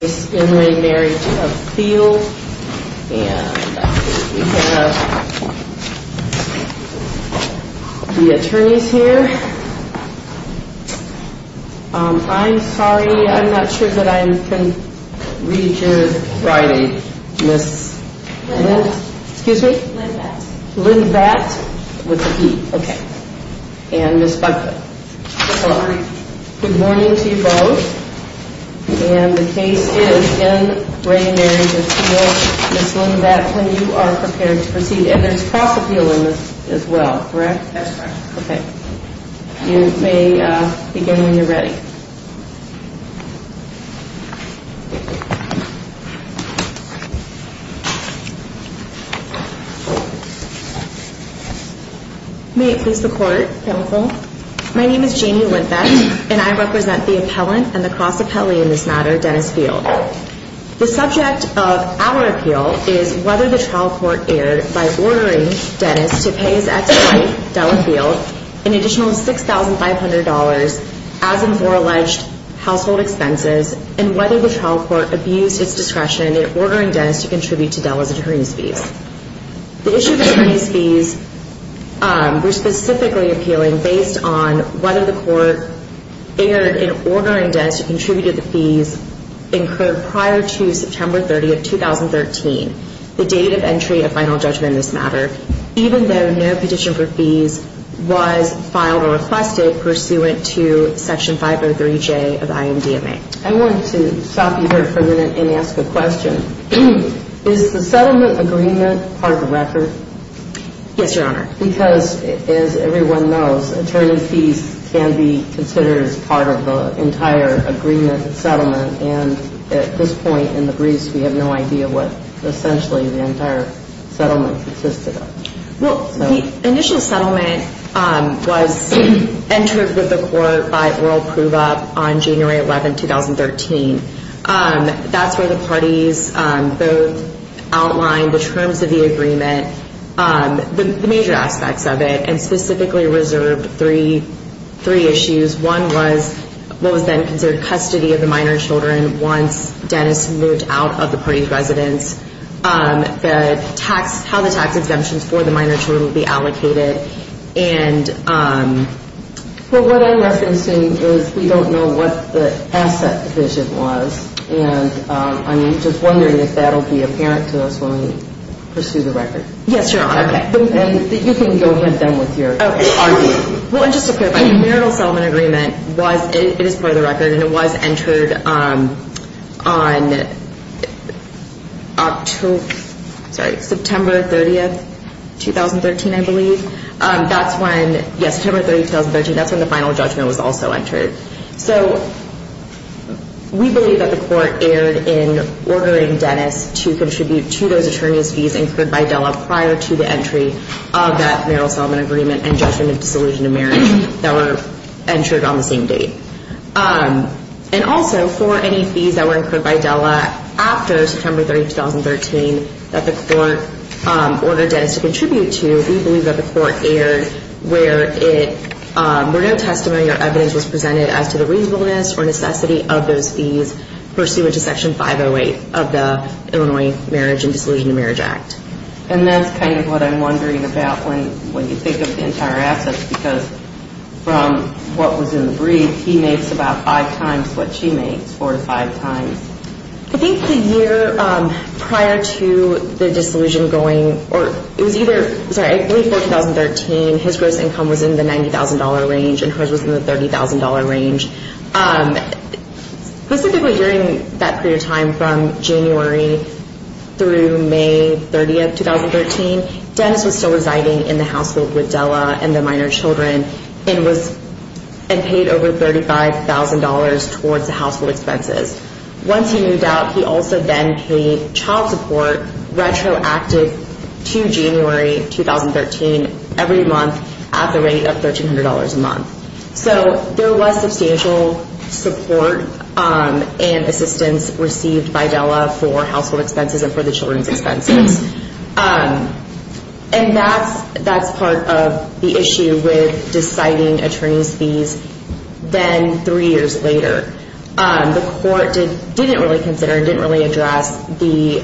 And we have the attorneys here. I'm sorry, I'm not sure that I can read your writing. Excuse me? Lynn Batt with a B. Okay. And Ms. Buckley. Good morning to you both. And the case is in re Marriage of Field. Ms. Lynn Batt, when you are prepared to proceed. And there's cross appeal in this as well, correct? That's correct. Okay. You may begin when you're ready. May it please the court. Counsel. My name is Jamie Lynn Batt and I represent the appellant and the cross appellee in this matter, Dennis Field. The subject of our appeal is whether the trial court erred by ordering Dennis to pay his ex-wife, Della Field, an additional $6,500 as and for alleged household expenses and whether the trial court abused its discretion in ordering Dennis to contribute to Della's attorneys fees. The issues of these fees were specifically appealing based on whether the court erred in ordering Dennis to contribute to the fees incurred prior to September 30, 2013, the date of entry of final judgment in this matter, even though no petition for fees was filed or requested pursuant to Section 503J of the IMDMA. I wanted to stop you here for a minute and ask a question. Is the settlement agreement part of the record? Yes, Your Honor. Because as everyone knows, attorney fees can be considered as part of the entire agreement settlement and at this point in the briefs we have no idea what essentially the entire settlement consisted of. Well, the initial settlement was entered with the court by oral prove-up on January 11, 2013. That's where the parties both outlined the terms of the agreement, the major aspects of it, and specifically reserved three issues. One was what was then considered custody of the minor children once Dennis moved out of the party's residence. The tax, how the tax exemptions for the minor children would be allocated and... Well, what I'm referencing is we don't know what the asset position was and I'm just wondering if that will be apparent to us when we pursue the record. Yes, Your Honor. Okay. And you can go ahead then with your argument. Well, and just to clarify, the marital settlement agreement was, it is part of the record and it was entered on October, sorry, September 30, 2013, I believe. That's when, yes, September 30, 2013, that's when the final judgment was also entered. So we believe that the court erred in ordering Dennis to contribute to those attorney's fees incurred by DELA prior to the entry of that marital settlement agreement and judgment of dissolution of marriage that were entered on the same date. And also for any fees that were incurred by DELA after September 30, 2013, that the court ordered Dennis to contribute to, we believe that the court erred where it, where no testimony or evidence was presented as to the reasonableness or necessity of those fees pursuant to Section 508 of the Illinois Marriage and Dissolution of Marriage Act. And that's kind of what I'm wondering about when you think of the entire assets because from what was in the brief, he makes about five times what she makes, four to five times. I think the year prior to the dissolution going, or it was either, sorry, I believe for 2013, his gross income was in the $90,000 range and hers was in the $30,000 range. Specifically during that period of time from January through May 30, 2013, Dennis was still residing in the household with DELA and the minor children and was, and paid over $35,000 towards the household expenses. Once he moved out, he also then paid child support retroactive to January 2013 every month at the rate of $1,300 a month. So there was substantial support and assistance received by DELA for household expenses and for the children's expenses. And that's part of the issue with deciding attorney's fees. Then three years later, the court didn't really consider, didn't really address the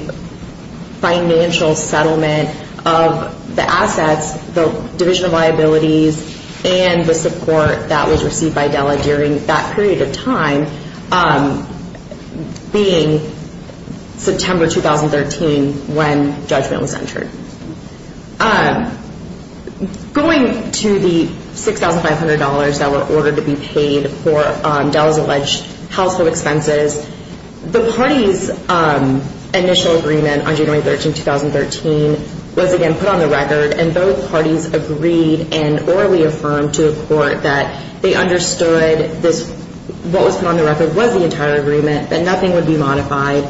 financial settlement of the assets, the division of liabilities, and the support that was received by DELA during that period of time being September 2013 when judgment was entered. Going to the $6,500 that were ordered to be paid for DELA's alleged household expenses, the party's initial agreement on January 13, 2013 was again put on the record, and both parties agreed and orally affirmed to the court that they understood this, what was put on the record was the entire agreement, that nothing would be modified.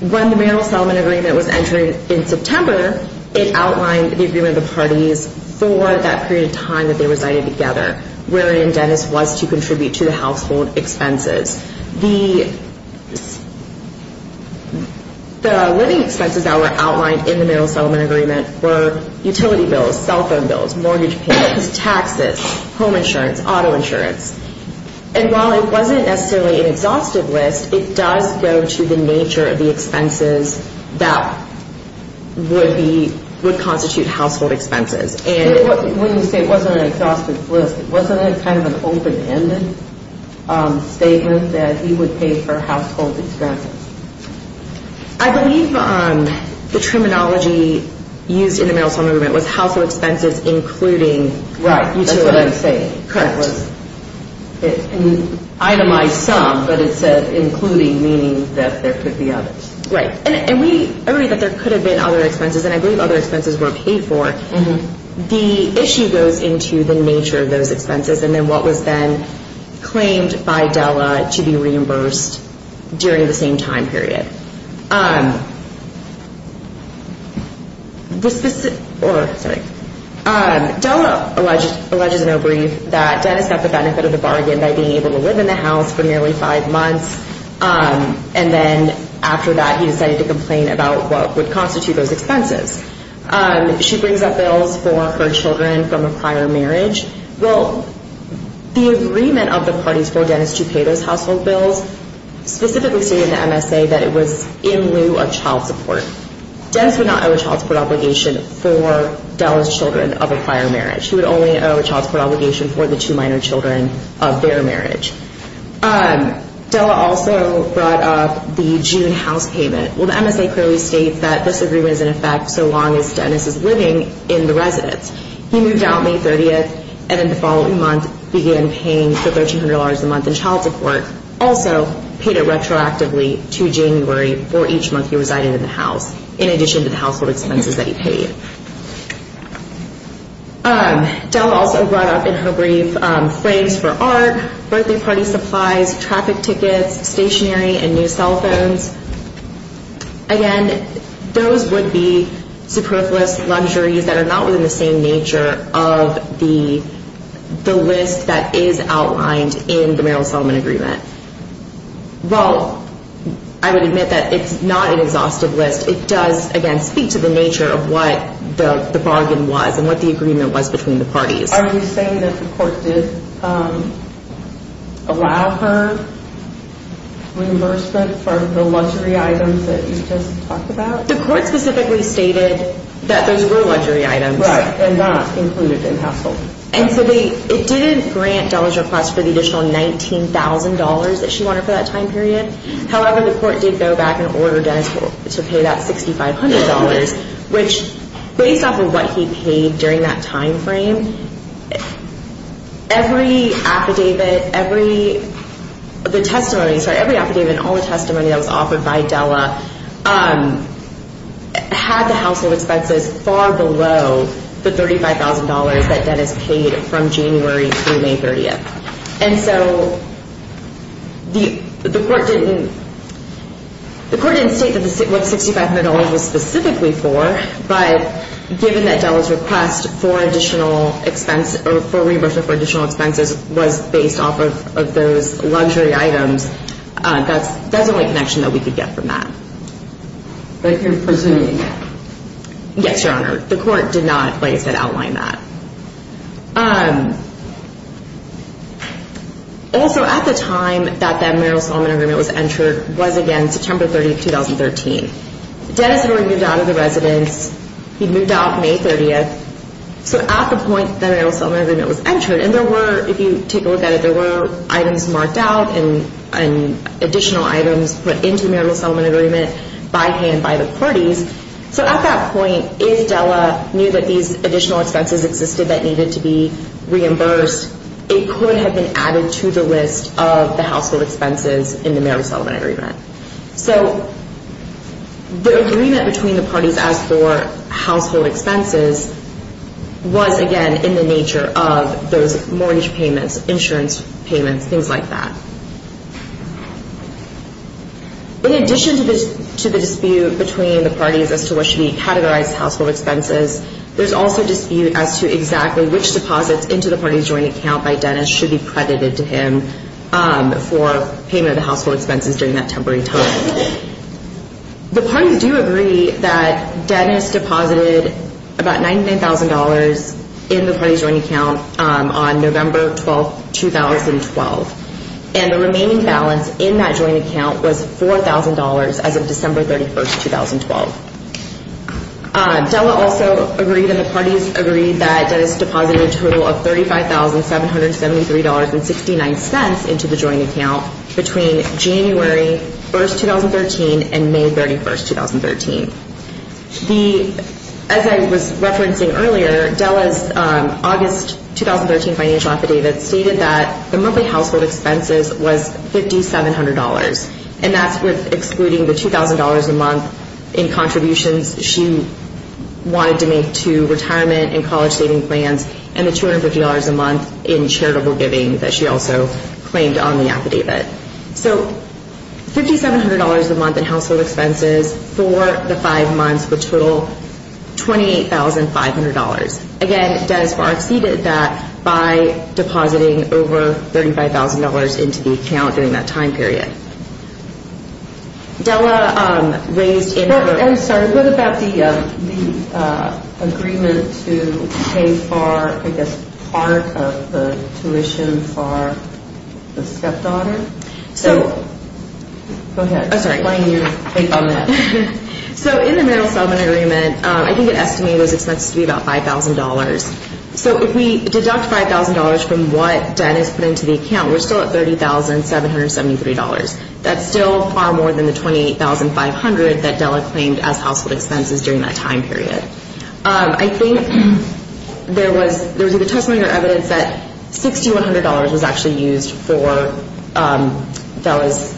When the marital settlement agreement was entered in September, it outlined the agreement of the parties for that period of time that they resided together wherein Dennis was to contribute to the household expenses. The living expenses that were outlined in the marital settlement agreement were utility bills, cell phone bills, mortgage payments, taxes, home insurance, auto insurance. And while it wasn't necessarily an exhaustive list, it does go to the nature of the expenses that would constitute household expenses. When you say it wasn't an exhaustive list, wasn't it kind of an open-ended statement that he would pay for household expenses? I believe the terminology used in the marital settlement agreement was household expenses including utility. Right, that's what I'm saying. Correct. It itemized some, but it said including meaning that there could be others. Right, and we agree that there could have been other expenses, and I believe other expenses were paid for. The issue goes into the nature of those expenses and then what was then claimed by Della to be reimbursed during the same time period. Della alleges in her brief that Dennis got the benefit of the bargain by being able to live in the house for nearly five months, and then after that he decided to complain about what would constitute those expenses. She brings up bills for her children from a prior marriage. Well, the agreement of the parties for Dennis to pay those household bills specifically stated in the MSA that it was in lieu of child support. Dennis would not owe a child support obligation for Della's children of a prior marriage. He would only owe a child support obligation for the two minor children of their marriage. Della also brought up the June house payment. Well, the MSA clearly states that this agreement is in effect so long as Dennis is living in the residence. He moved out May 30th and then the following month began paying the $1,300 a month in child support. Also paid it retroactively to January for each month he resided in the house, in addition to the household expenses that he paid. Della also brought up in her brief claims for art, birthday party supplies, traffic tickets, stationery, and new cell phones. Again, those would be superfluous luxuries that are not within the same nature of the list that is outlined in the Maryland-Solomon agreement. Well, I would admit that it's not an exhaustive list. It does, again, speak to the nature of what the bargain was and what the agreement was between the parties. Are you saying that the court did allow her reimbursement for the luxury items that you just talked about? The court specifically stated that those were luxury items. Right, and not included in household. And so it didn't grant Della's request for the additional $19,000 that she wanted for that time period. However, the court did go back and order Dennis to pay that $6,500, which based off of what he paid during that time frame, every affidavit, every testimony, sorry, every affidavit and all the testimony that was offered by Della had the household expenses far below the $35,000 that Dennis paid from January through May 30th. And so the court didn't state what $6,500 was specifically for, but given that Della's request for additional expense or for reimbursement for additional expenses was based off of those luxury items, that's the only connection that we could get from that. But you're presuming that? Also, at the time that the marital settlement agreement was entered was, again, September 30th, 2013. Dennis had already moved out of the residence. He'd moved out May 30th. So at the point that the marital settlement agreement was entered, and there were, if you take a look at it, there were items marked out and additional items put into the marital settlement agreement by hand by the parties. So at that point, if Della knew that these additional expenses existed that needed to be reimbursed, it could have been added to the list of the household expenses in the marital settlement agreement. So the agreement between the parties as for household expenses was, again, in the nature of those mortgage payments, insurance payments, things like that. In addition to the dispute between the parties as to what should be categorized as household expenses, there's also dispute as to exactly which deposits into the parties' joint account by Dennis should be credited to him for payment of the household expenses during that temporary time. The parties do agree that Dennis deposited about $99,000 in the parties' joint account on November 12th, 2012. And the remaining balance in that joint account was $4,000 as of December 31st, 2012. Della also agreed and the parties agreed that Dennis deposited a total of $35,773.69 into the joint account between January 1st, 2013 and May 31st, 2013. As I was referencing earlier, Della's August 2013 financial affidavit stated that the monthly household expenses was $5,700. And that's excluding the $2,000 a month in contributions she wanted to make to retirement and college saving plans and the $250 a month in charitable giving that she also claimed on the affidavit. So $5,700 a month in household expenses for the five months, a total of $28,500. Again, Dennis far exceeded that by depositing over $35,000 into the account during that time period. I'm sorry, what about the agreement to pay for, I guess, part of the tuition for the stepdaughter? So in the marital settlement agreement, I think it estimated those expenses to be about $5,000. So if we deduct $5,000 from what Dennis put into the account, we're still at $30,773. That's still far more than the $28,500 that Della claimed as household expenses during that time period. I think there was either testimony or evidence that $6,100 was actually used for Della's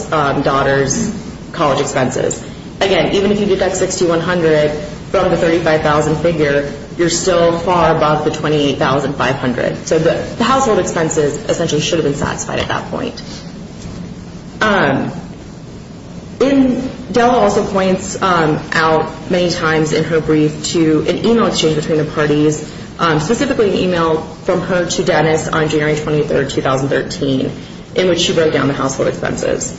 daughter's college expenses. Again, even if you deduct $6,100 from the $35,000 figure, you're still far above the $28,500. So the household expenses essentially should have been satisfied at that point. Della also points out many times in her brief to an email exchange between the parties, specifically an email from her to Dennis on January 23, 2013, in which she wrote down the household expenses.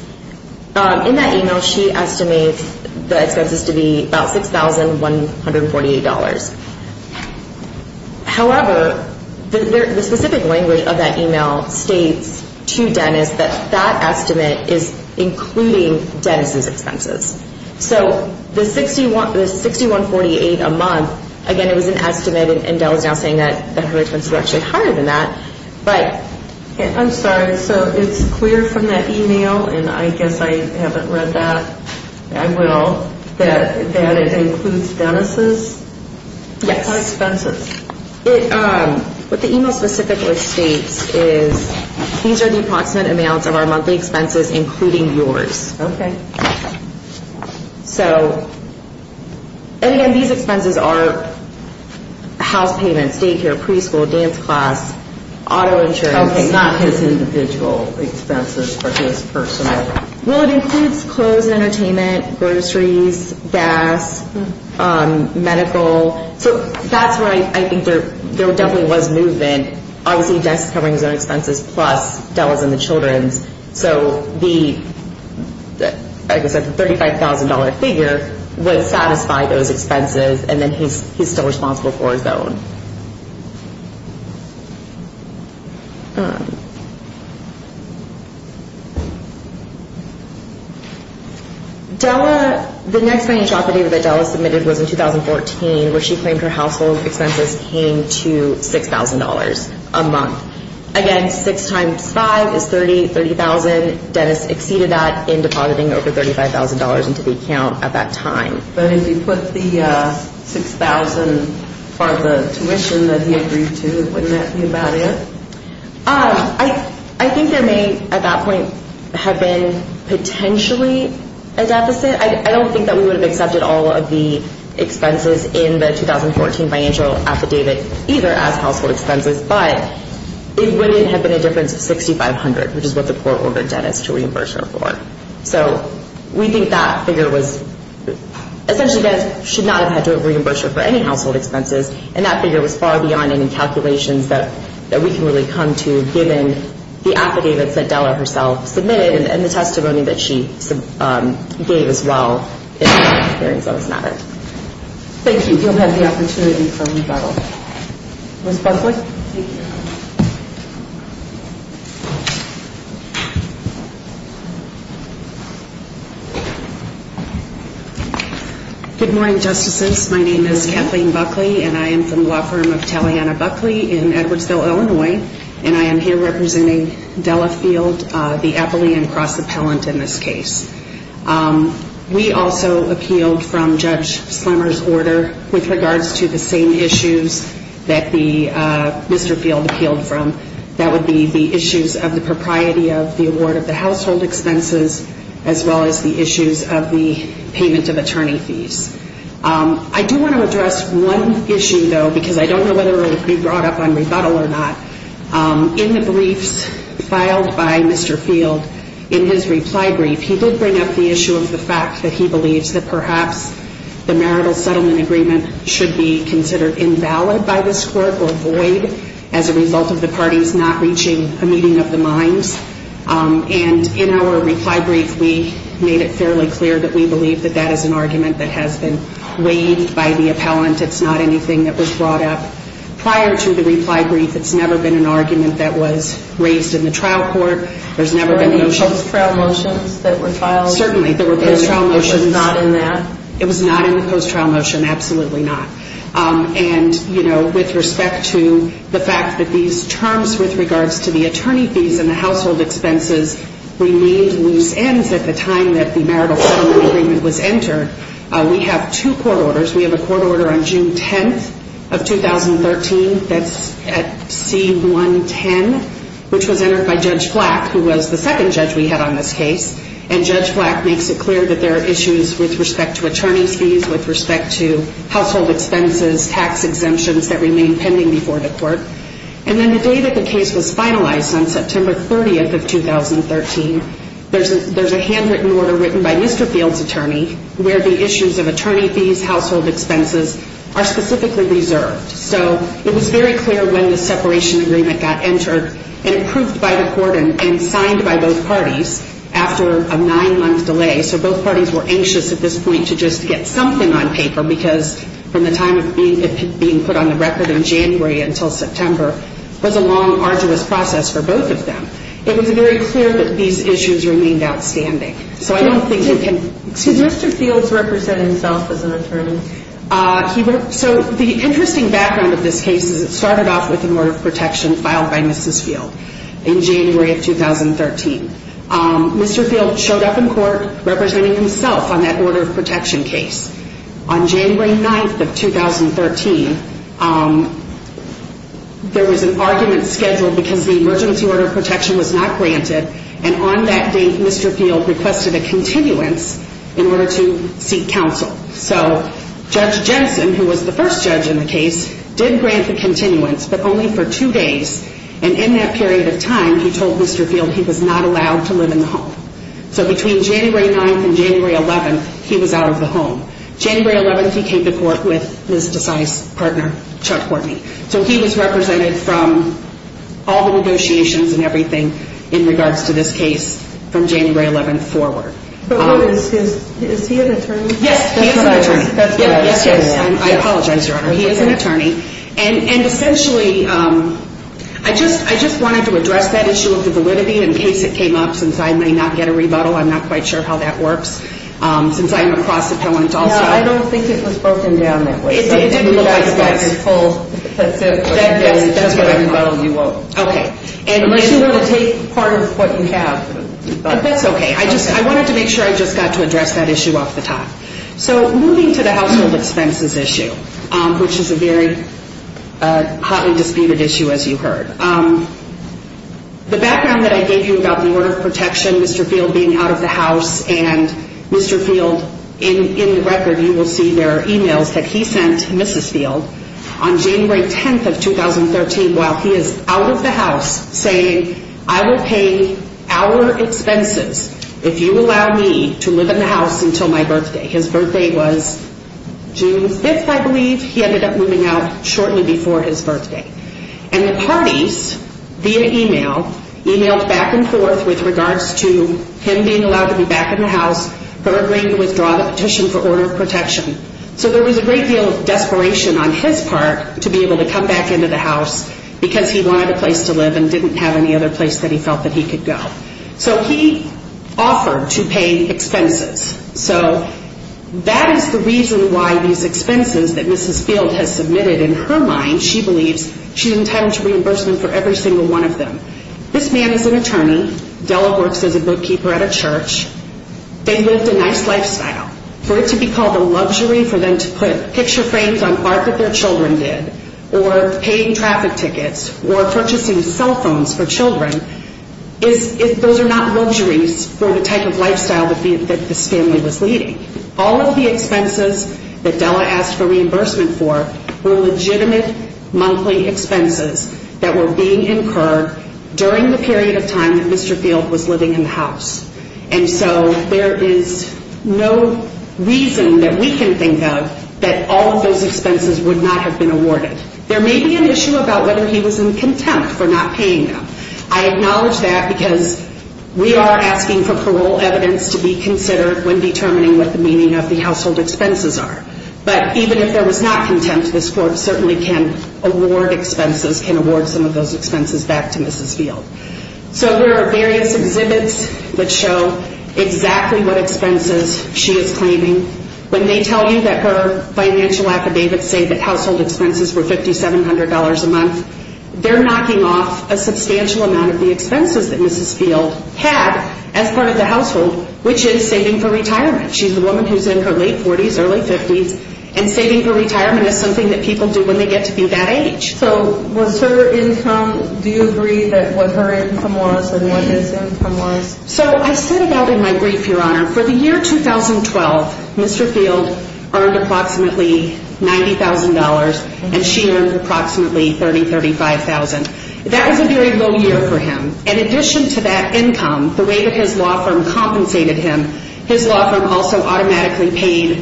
In that email, she estimates the expenses to be about $6,148. However, the specific language of that email states to Dennis that that estimate is including Dennis's expenses. So the $6,148 a month, again, it was an estimate, and Della's now saying that her expenses were actually higher than that. I'm sorry, so it's clear from that email, and I guess I haven't read that. I will, that it includes Dennis's expenses. What the email specifically states is these are the approximate amounts of our monthly expenses, including yours. Okay. So, and again, these expenses are house payments, daycare, preschool, dance class, auto insurance. Okay, not his individual expenses or his personal. Well, it includes clothes and entertainment, groceries, gas, medical. So that's where I think there definitely was movement. Obviously, Dennis is covering his own expenses plus Della's and the children's. So the, like I said, the $35,000 figure would satisfy those expenses, and then he's still responsible for his own. Della, the next financial opportunity that Della submitted was in 2014, where she claimed her household expenses came to $6,000 a month. Again, 6 times 5 is 30, 30,000. Dennis exceeded that in depositing over $35,000 into the account at that time. But if you put the 6,000 for the tuition that he agreed to, wouldn't that be about it? I think there may, at that point, have been potentially a deficit. I don't think that we would have accepted all of the expenses in the 2014 financial affidavit either as household expenses. But it wouldn't have been a difference of $6,500, which is what the court ordered Dennis to reimburse her for. So we think that figure was essentially Dennis should not have had to reimburse her for any household expenses, and that figure was far beyond any calculations that we can really come to, given the affidavits that Della herself submitted and the testimony that she gave as well in the hearings on this matter. Thank you. You'll have the opportunity for rebuttal. Ms. Buckley? Thank you. Good morning, Justices. My name is Kathleen Buckley, and I am from the law firm of Taliana Buckley in Edwardsville, Illinois, and I am here representing Della Field, the Eppley and Cross appellant in this case. We also appealed from Judge Slemmer's order with regards to the same issues that Mr. Field appealed from. That would be the issues of the propriety of the award of the household expenses as well as the issues of the payment of attorney fees. I do want to address one issue, though, because I don't know whether it will be brought up on rebuttal or not. In the briefs filed by Mr. Field, in his reply brief, he did bring up the issue of the fact that he believes that perhaps the marital settlement agreement should be considered invalid by this court or void as a result of the parties not reaching a meeting of the minds. And in our reply brief, we made it fairly clear that we believe that that is an argument that has been weighed by the appellant. It's not anything that was brought up prior to the reply brief. It's never been an argument that was raised in the trial court. There's never been a motion. There were no post-trial motions that were filed? Certainly. There were post-trial motions. It was not in that? It was not in the post-trial motion, absolutely not. And, you know, with respect to the fact that these terms with regards to the attorney fees and the household expenses remained loose ends at the time that the marital settlement agreement was entered, we have two court orders. We have a court order on June 10th of 2013 that's at C-110, which was entered by Judge Flack, who was the second judge we had on this case. And Judge Flack makes it clear that there are issues with respect to attorney's fees, with respect to household expenses, tax exemptions that remain pending before the court. And then the day that the case was finalized, on September 30th of 2013, there's a handwritten order written by Mr. Fields' attorney where the issues of attorney fees, household expenses are specifically reserved. So it was very clear when the separation agreement got entered and approved by the court and signed by both parties after a nine-month delay. So both parties were anxious at this point to just get something on paper, because from the time it being put on the record in January until September, it was a long, arduous process for both of them. It was very clear that these issues remained outstanding. So I don't think you can... Did Mr. Fields represent himself as an attorney? So the interesting background of this case is it started off with an order of protection filed by Mrs. Field in January of 2013. Mr. Field showed up in court representing himself on that order of protection case. On January 9th of 2013, there was an argument scheduled because the emergency order of protection was not granted. And on that date, Mr. Field requested a continuance in order to seek counsel. So Judge Jensen, who was the first judge in the case, did grant the continuance, but only for two days. And in that period of time, he told Mr. Field he was not allowed to live in the home. So between January 9th and January 11th, he was out of the home. January 11th, he came to court with Ms. Desai's partner, Chuck Courtney. So he was represented from all the negotiations and everything in regards to this case from January 11th forward. But is he an attorney? Yes, he is an attorney. I apologize, Your Honor. He is an attorney. And essentially, I just wanted to address that issue of the validity in case it came up, since I may not get a rebuttal. I'm not quite sure how that works, since I'm a cross-appellant also. No, I don't think it was broken down that way. It didn't look like it was. That's what I thought. Unless you want to take part of what you have. That's okay. I wanted to make sure I just got to address that issue off the top. So moving to the household expenses issue, which is a very hotly disputed issue, as you heard. The background that I gave you about the Order of Protection, Mr. Field being out of the house, and Mr. Field, in the record, you will see there are e-mails that he sent Mrs. Field on January 10th of 2013 while he is out of the house, saying, I will pay our expenses if you allow me to live in the house until my birthday. His birthday was June 5th, I believe. He ended up moving out shortly before his birthday. And the parties, via e-mail, e-mailed back and forth with regards to him being allowed to be back in the house for agreeing to withdraw the petition for Order of Protection. So there was a great deal of desperation on his part to be able to come back into the house because he wanted a place to live and didn't have any other place that he felt that he could go. So he offered to pay expenses. So that is the reason why these expenses that Mrs. Field has submitted, in her mind, she believes she's entitled to reimbursement for every single one of them. This man is an attorney. Della works as a bookkeeper at a church. They lived a nice lifestyle. For it to be called a luxury for them to put picture frames on art that their children did, or paying traffic tickets, or purchasing cell phones for children, those are not luxuries for the type of lifestyle that this family was leading. All of the expenses that Della asked for reimbursement for were legitimate monthly expenses that were being incurred during the period of time that Mr. Field was living in the house. And so there is no reason that we can think of that all of those expenses would not have been awarded. There may be an issue about whether he was in contempt for not paying them. I acknowledge that because we are asking for parole evidence to be considered when determining what the meaning of the household expenses are. But even if there was not contempt, this Court certainly can award expenses, can award some of those expenses back to Mrs. Field. So there are various exhibits that show exactly what expenses she is claiming. When they tell you that her financial affidavits say that household expenses were $5,700 a month, they're knocking off a substantial amount of the expenses that Mrs. Field had as part of the household, which is saving for retirement. She's a woman who's in her late 40s, early 50s, and saving for retirement is something that people do when they get to be that age. So was her income, do you agree that what her income was and what his income was? So I said about in my brief, Your Honor, for the year 2012, Mr. Field earned approximately $90,000 and she earned approximately $30,000, $35,000. That was a very low year for him. In addition to that income, the way that his law firm compensated him, his law firm also automatically paid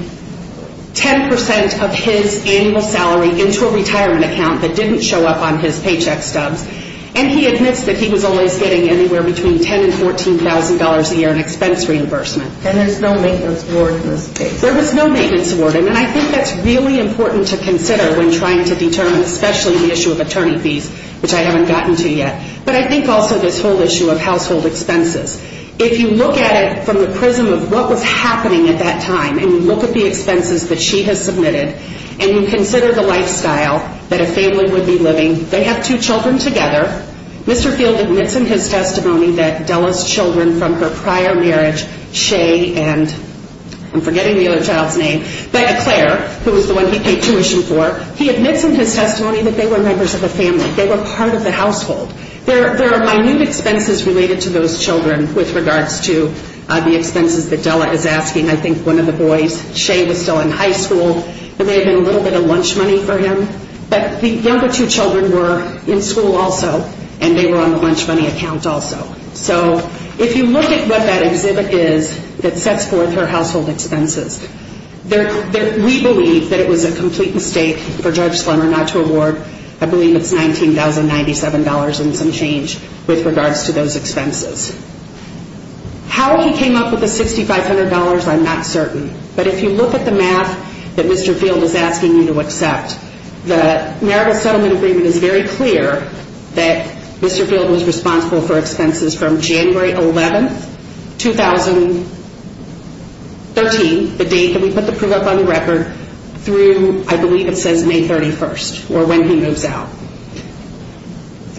10% of his annual salary into a retirement account that didn't show up on his paycheck stubs, and he admits that he was always getting anywhere between $10,000 and $14,000 a year in expense reimbursement. And there's no maintenance award in this case? There was no maintenance award, and I think that's really important to consider when trying to determine, especially the issue of attorney fees, which I haven't gotten to yet, but I think also this whole issue of household expenses. If you look at it from the prism of what was happening at that time and you look at the expenses that she has submitted and you consider the lifestyle that a family would be living, they have two children together, Mr. Field admits in his testimony that Della's children from her prior marriage, Shay and I'm forgetting the other child's name, but Claire, who was the one he paid tuition for, he admits in his testimony that they were members of a family, they were part of the household. There are minute expenses related to those children with regards to the expenses that Della is asking. I think one of the boys, Shay, was still in high school. There may have been a little bit of lunch money for him, but the younger two children were in school also and they were on the lunch money account also. So if you look at what that exhibit is that sets forth her household expenses, we believe that it was a complete mistake for Judge Slemmer not to award, I believe it's $19,097 and some change with regards to those expenses. How he came up with the $6,500, I'm not certain, but if you look at the math that Mr. Field is asking you to accept, the marital settlement agreement is very clear that Mr. Field was responsible for expenses from January 11th, 2013, the date that we put the proof up on the record, through I believe it says May 31st or when he moves out.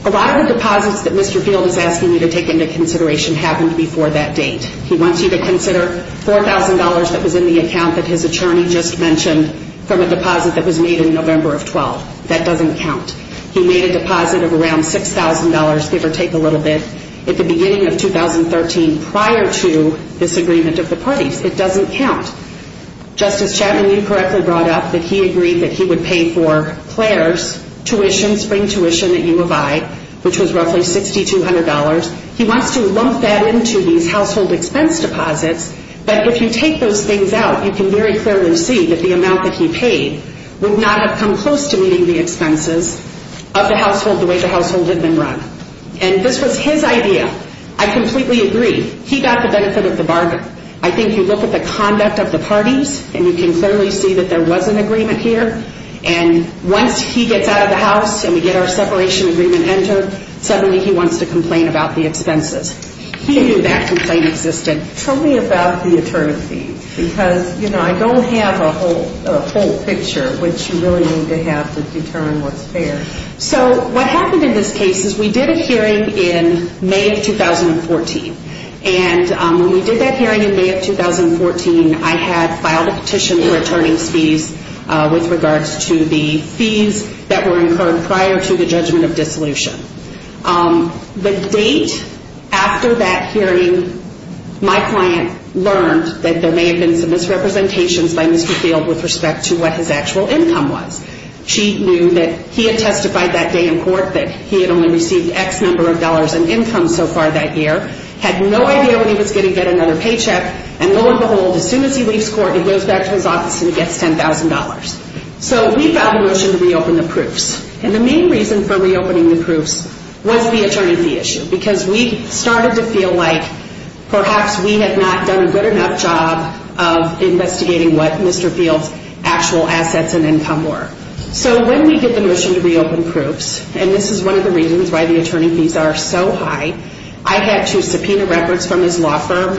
A lot of the deposits that Mr. Field is asking you to take into consideration happened before that date. He wants you to consider $4,000 that was in the account that his attorney just mentioned from a deposit that was made in November of 12th. That doesn't count. He made a deposit of around $6,000, give or take a little bit, at the beginning of 2013 prior to this agreement of the parties. It doesn't count. Justice Chapman, you correctly brought up that he agreed that he would pay for Claire's tuition, spring tuition at U of I, which was roughly $6,200. He wants to lump that into these household expense deposits. But if you take those things out, you can very clearly see that the amount that he paid would not have come close to meeting the expenses of the household the way the household had been run. And this was his idea. I completely agree. He got the benefit of the bargain. I think you look at the conduct of the parties, and you can clearly see that there was an agreement here. And once he gets out of the house and we get our separation agreement entered, suddenly he wants to complain about the expenses. He knew that complaint existed. Tell me about the attorney fees, because, you know, I don't have a whole picture, which you really need to have to determine what's fair. So what happened in this case is we did a hearing in May of 2014. And when we did that hearing in May of 2014, I had filed a petition for attorney's fees with regards to the fees that were incurred prior to the judgment of dissolution. The date after that hearing, my client learned that there may have been some misrepresentations by Mr. Field with respect to what his actual income was. She knew that he had testified that day in court that he had only received X number of dollars in income so far that year, had no idea when he was going to get another paycheck, and lo and behold, as soon as he leaves court, he goes back to his office and he gets $10,000. So we filed a motion to reopen the proofs. And the main reason for reopening the proofs was the attorney fee issue, because we started to feel like perhaps we had not done a good enough job of investigating what Mr. Field's actual assets and income were. So when we did the motion to reopen proofs, and this is one of the reasons why the attorney fees are so high, I had to subpoena records from his law firm.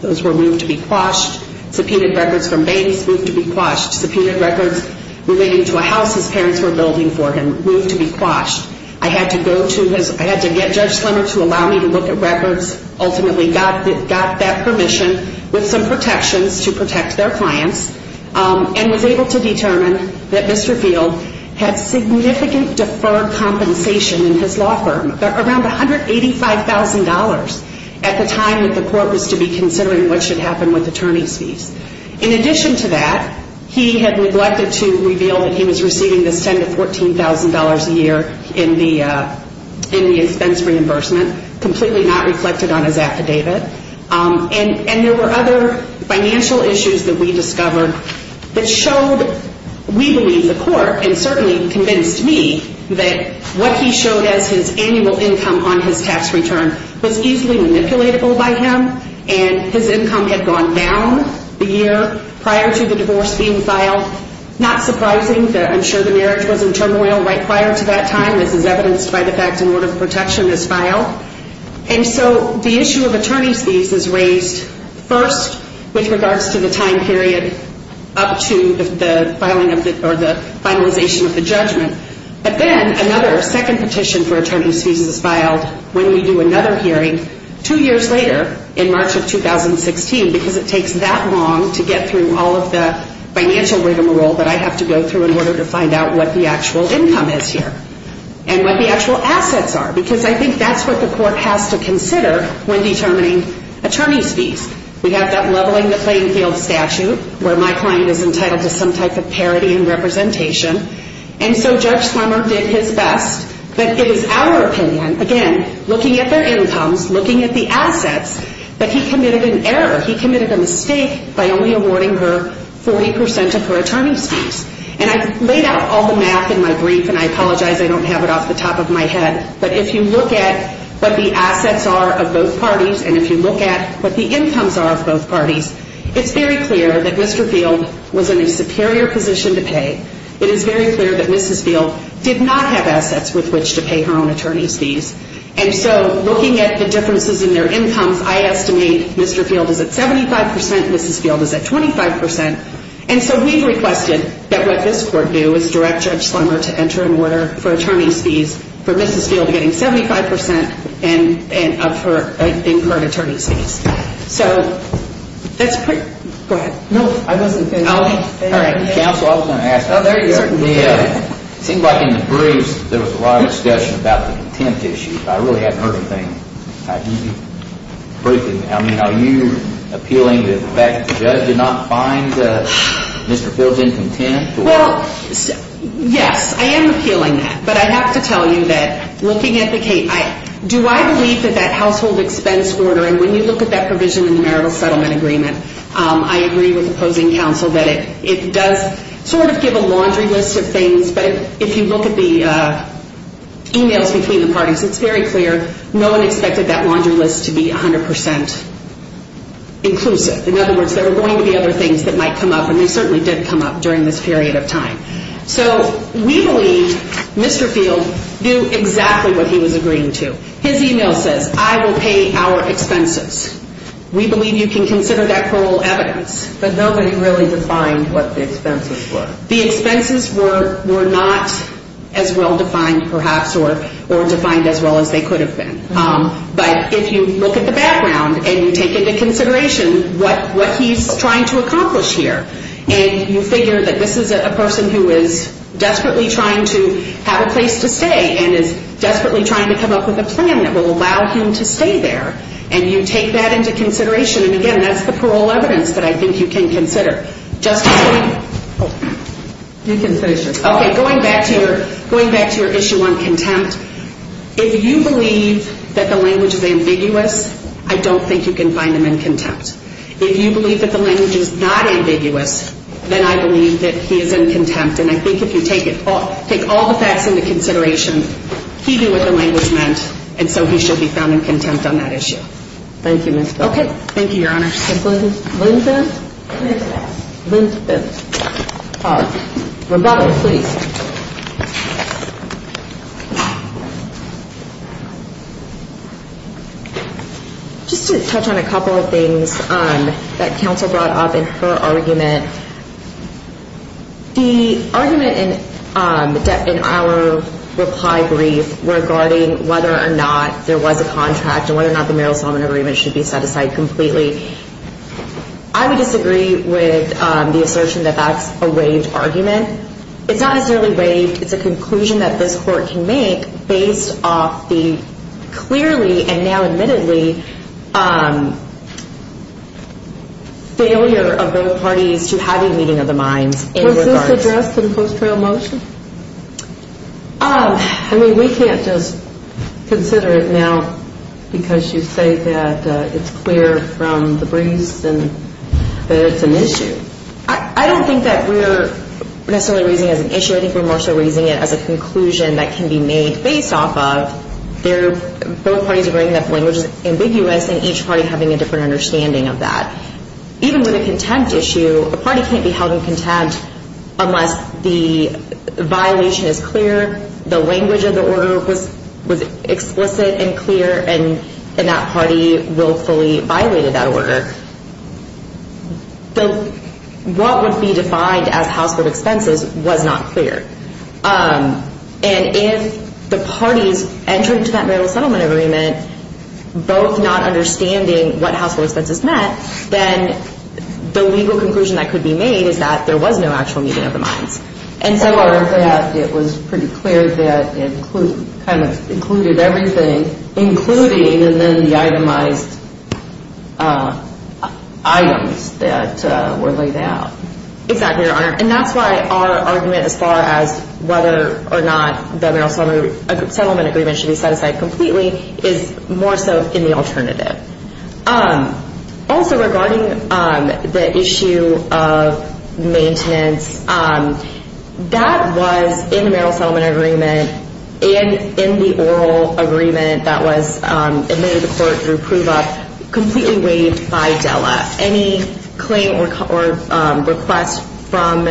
Those were moved to be quashed. Subpoenaed records from babies moved to be quashed. Subpoenaed records relating to a house his parents were building for him moved to be quashed. I had to go to his, I had to get Judge Slemmer to allow me to look at records, ultimately got that permission with some protections to protect their clients, and was able to determine that Mr. Field had significant deferred compensation in his law firm, around $185,000 at the time that the court was to be considering what should happen with attorney's fees. In addition to that, he had neglected to reveal that he was receiving this $10,000 to $14,000 a year in the expense reimbursement, completely not reflected on his affidavit. And there were other financial issues that we discovered that showed, we believe, the court, and certainly convinced me, that what he showed as his annual income on his tax return was easily manipulatable by him, and his income had gone down the year prior to the divorce being filed. Not surprising, I'm sure the marriage was in turmoil right prior to that time. This is evidenced by the fact an order of protection is filed. And so the issue of attorney's fees is raised first with regards to the time period up to the filing of the, or the finalization of the judgment. But then another second petition for attorney's fees is filed when we do another hearing two years later, in March of 2016, because it takes that long to get through all of the financial rigmarole that I have to go through in order to find out what the actual income is here, and what the actual assets are. Because I think that's what the court has to consider when determining attorney's fees. We have that leveling the playing field statute, where my client is entitled to some type of parity in representation. And so Judge Slummer did his best, but it is our opinion, again, looking at their incomes, looking at the assets, that he committed an error. He committed a mistake by only awarding her 40 percent of her attorney's fees. And I've laid out all the math in my brief, and I apologize I don't have it off the top of my head, but if you look at what the assets are of both parties, and if you look at what the incomes are of both parties, it's very clear that Mr. Field was in a superior position to pay. It is very clear that Mrs. Field did not have assets with which to pay her own attorney's fees. And so looking at the differences in their incomes, I estimate Mr. Field is at 75 percent, Mrs. Field is at 25 percent. And so we've requested that what this court do is direct Judge Slummer to enter an order for attorney's fees for Mrs. Field getting 75 percent of her incurred attorney's fees. So that's pretty, go ahead. It seems like in the briefs there was a lot of discussion about the contempt issue. I really haven't heard a thing. Are you appealing to the fact that the judge did not find Mr. Field's in contempt? Well, yes, I am appealing that. But I have to tell you that looking at the case, do I believe that that household expense order, and when you look at that provision in the marital settlement agreement, I agree with opposing counsel that it does sort of give a laundry list of things, but if you look at the emails between the parties, it's very clear no one expected that laundry list to be 100 percent inclusive. In other words, there are going to be other things that might come up, and they certainly did come up during this period of time. So we believe Mr. Field knew exactly what he was agreeing to. His email says, I will pay our expenses. We believe you can consider that plural evidence. But nobody really defined what the expenses were. The expenses were not as well defined perhaps or defined as well as they could have been. But if you look at the background and you take into consideration what he's trying to accomplish here, and you figure that this is a person who is desperately trying to have a place to stay and is desperately trying to come up with a plan that will allow him to stay there, and you take that into consideration, and again, that's the plural evidence that I think you can consider. Okay, going back to your issue on contempt, if you believe that the language is ambiguous, I don't think you can find him in contempt. If you believe that the language is not ambiguous, then I believe that he is in contempt. And I think if you take all the facts into consideration, he knew what the language meant, and so he should be found in contempt on that issue. Thank you, Your Honor. Just to touch on a couple of things that counsel brought up in her argument. The argument in our reply brief regarding whether or not there was a contract and whether or not the Meryl Solomon agreement should be set aside completely, I would disagree with the assertion that that's a waived argument. It's not necessarily waived. It's a conclusion that this Court can make based off the clearly and now admittedly failure of both parties to have a meeting of the minds. Was this addressed in post-trial motion? I mean, we can't just consider it now because you say that it's clear from the briefs and that it's an issue. I don't think that we're necessarily raising it as an issue. I think we're more so raising it as a conclusion that can be made based off of both parties agreeing that the language is ambiguous and each party having a different understanding of that. Even with a contempt issue, a party can't be held in contempt unless the violation is clear, the language of the order was explicit and clear, and that party willfully violated that order. What would be defined as household expenses was not clear. And if the parties entering into that Meryl Solomon agreement, both not understanding what household expenses meant, then the legal conclusion that could be made is that there was no actual meeting of the minds. It was pretty clear that it included everything, including the itemized items that were laid out. Exactly, Your Honor. And that's why our argument as far as whether or not the Meryl Solomon settlement agreement should be set aside completely is more so in the alternative. Also regarding the issue of maintenance, that was in the Meryl Solomon agreement and in the oral agreement that was admitted to court through prove up completely waived by DELA. Any claim or request from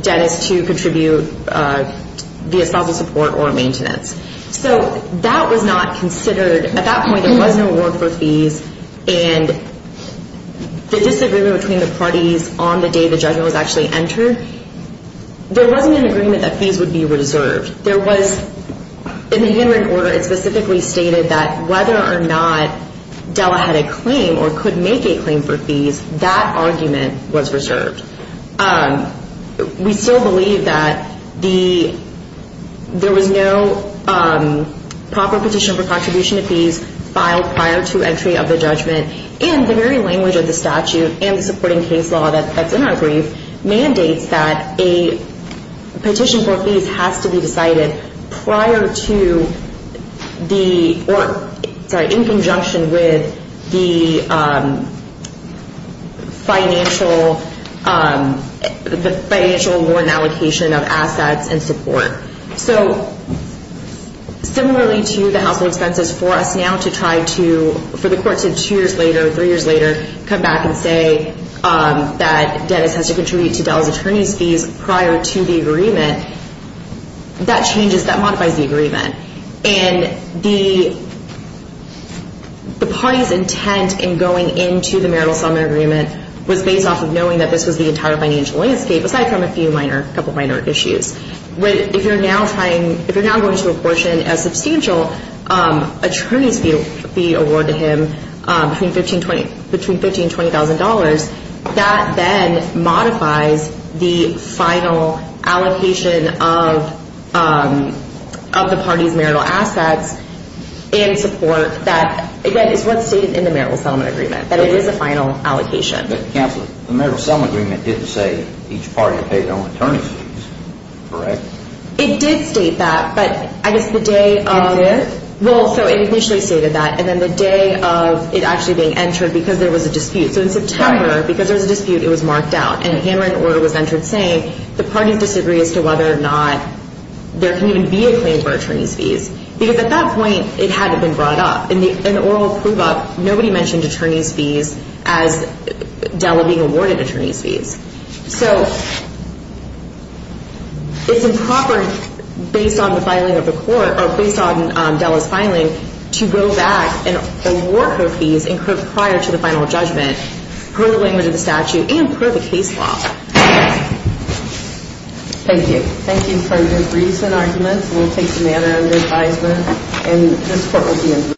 Dennis to contribute via spousal support or maintenance. So that was not considered, at that point there was no award for fees, and the disagreement between the parties on the day the judgment was actually entered, there wasn't an agreement that fees would be reserved. There was, in the agreement order it specifically stated that whether or not DELA had a claim or could make a claim for fees, that argument was reserved. We still believe that there was no proper petition for contribution to fees filed prior to entry of the judgment, and the very language of the statute and the supporting case law that's in our brief mandates that a petition for fees has to be decided prior to the, sorry, in conjunction with the financial award and allocation of assets and support. Similarly to the household expenses for us now to try to, for the courts to two years later, three years later, come back and say that Dennis has to contribute to DELA's attorney's fees prior to the agreement, that changes, that modifies the agreement. And the party's intent in going into the marital settlement agreement was based off of knowing that this was the entire financial landscape, aside from a few minor, couple minor issues. If you're now trying, if you're now going to apportion a substantial attorney's fee award to him between 15 and $20,000, that then modifies the final allocation of the party's marital assets in support that, again, is what's stated in the marital settlement agreement, that it is a final allocation. But Counselor, the marital settlement agreement didn't say each party paid their own attorney's fees, correct? It did state that, but I guess the day of... It did? Well, so it initially stated that, and then the day of it actually being entered, because there was a dispute. So in September, because there was a dispute, it was marked out. And a hammering order was entered saying the parties disagree as to whether or not there can even be a claim for attorney's fees. Because at that point it had been brought up. In the oral approval, nobody mentioned attorney's fees as Della being awarded attorney's fees. So it's improper, based on the filing of the court, or based on Della's filing, to go back and award her fees prior to the final judgment, per the language of the statute and per the case law. Thank you. Thank you for your briefs and arguments. We'll take the matter under advisement, and this court will be adjourned.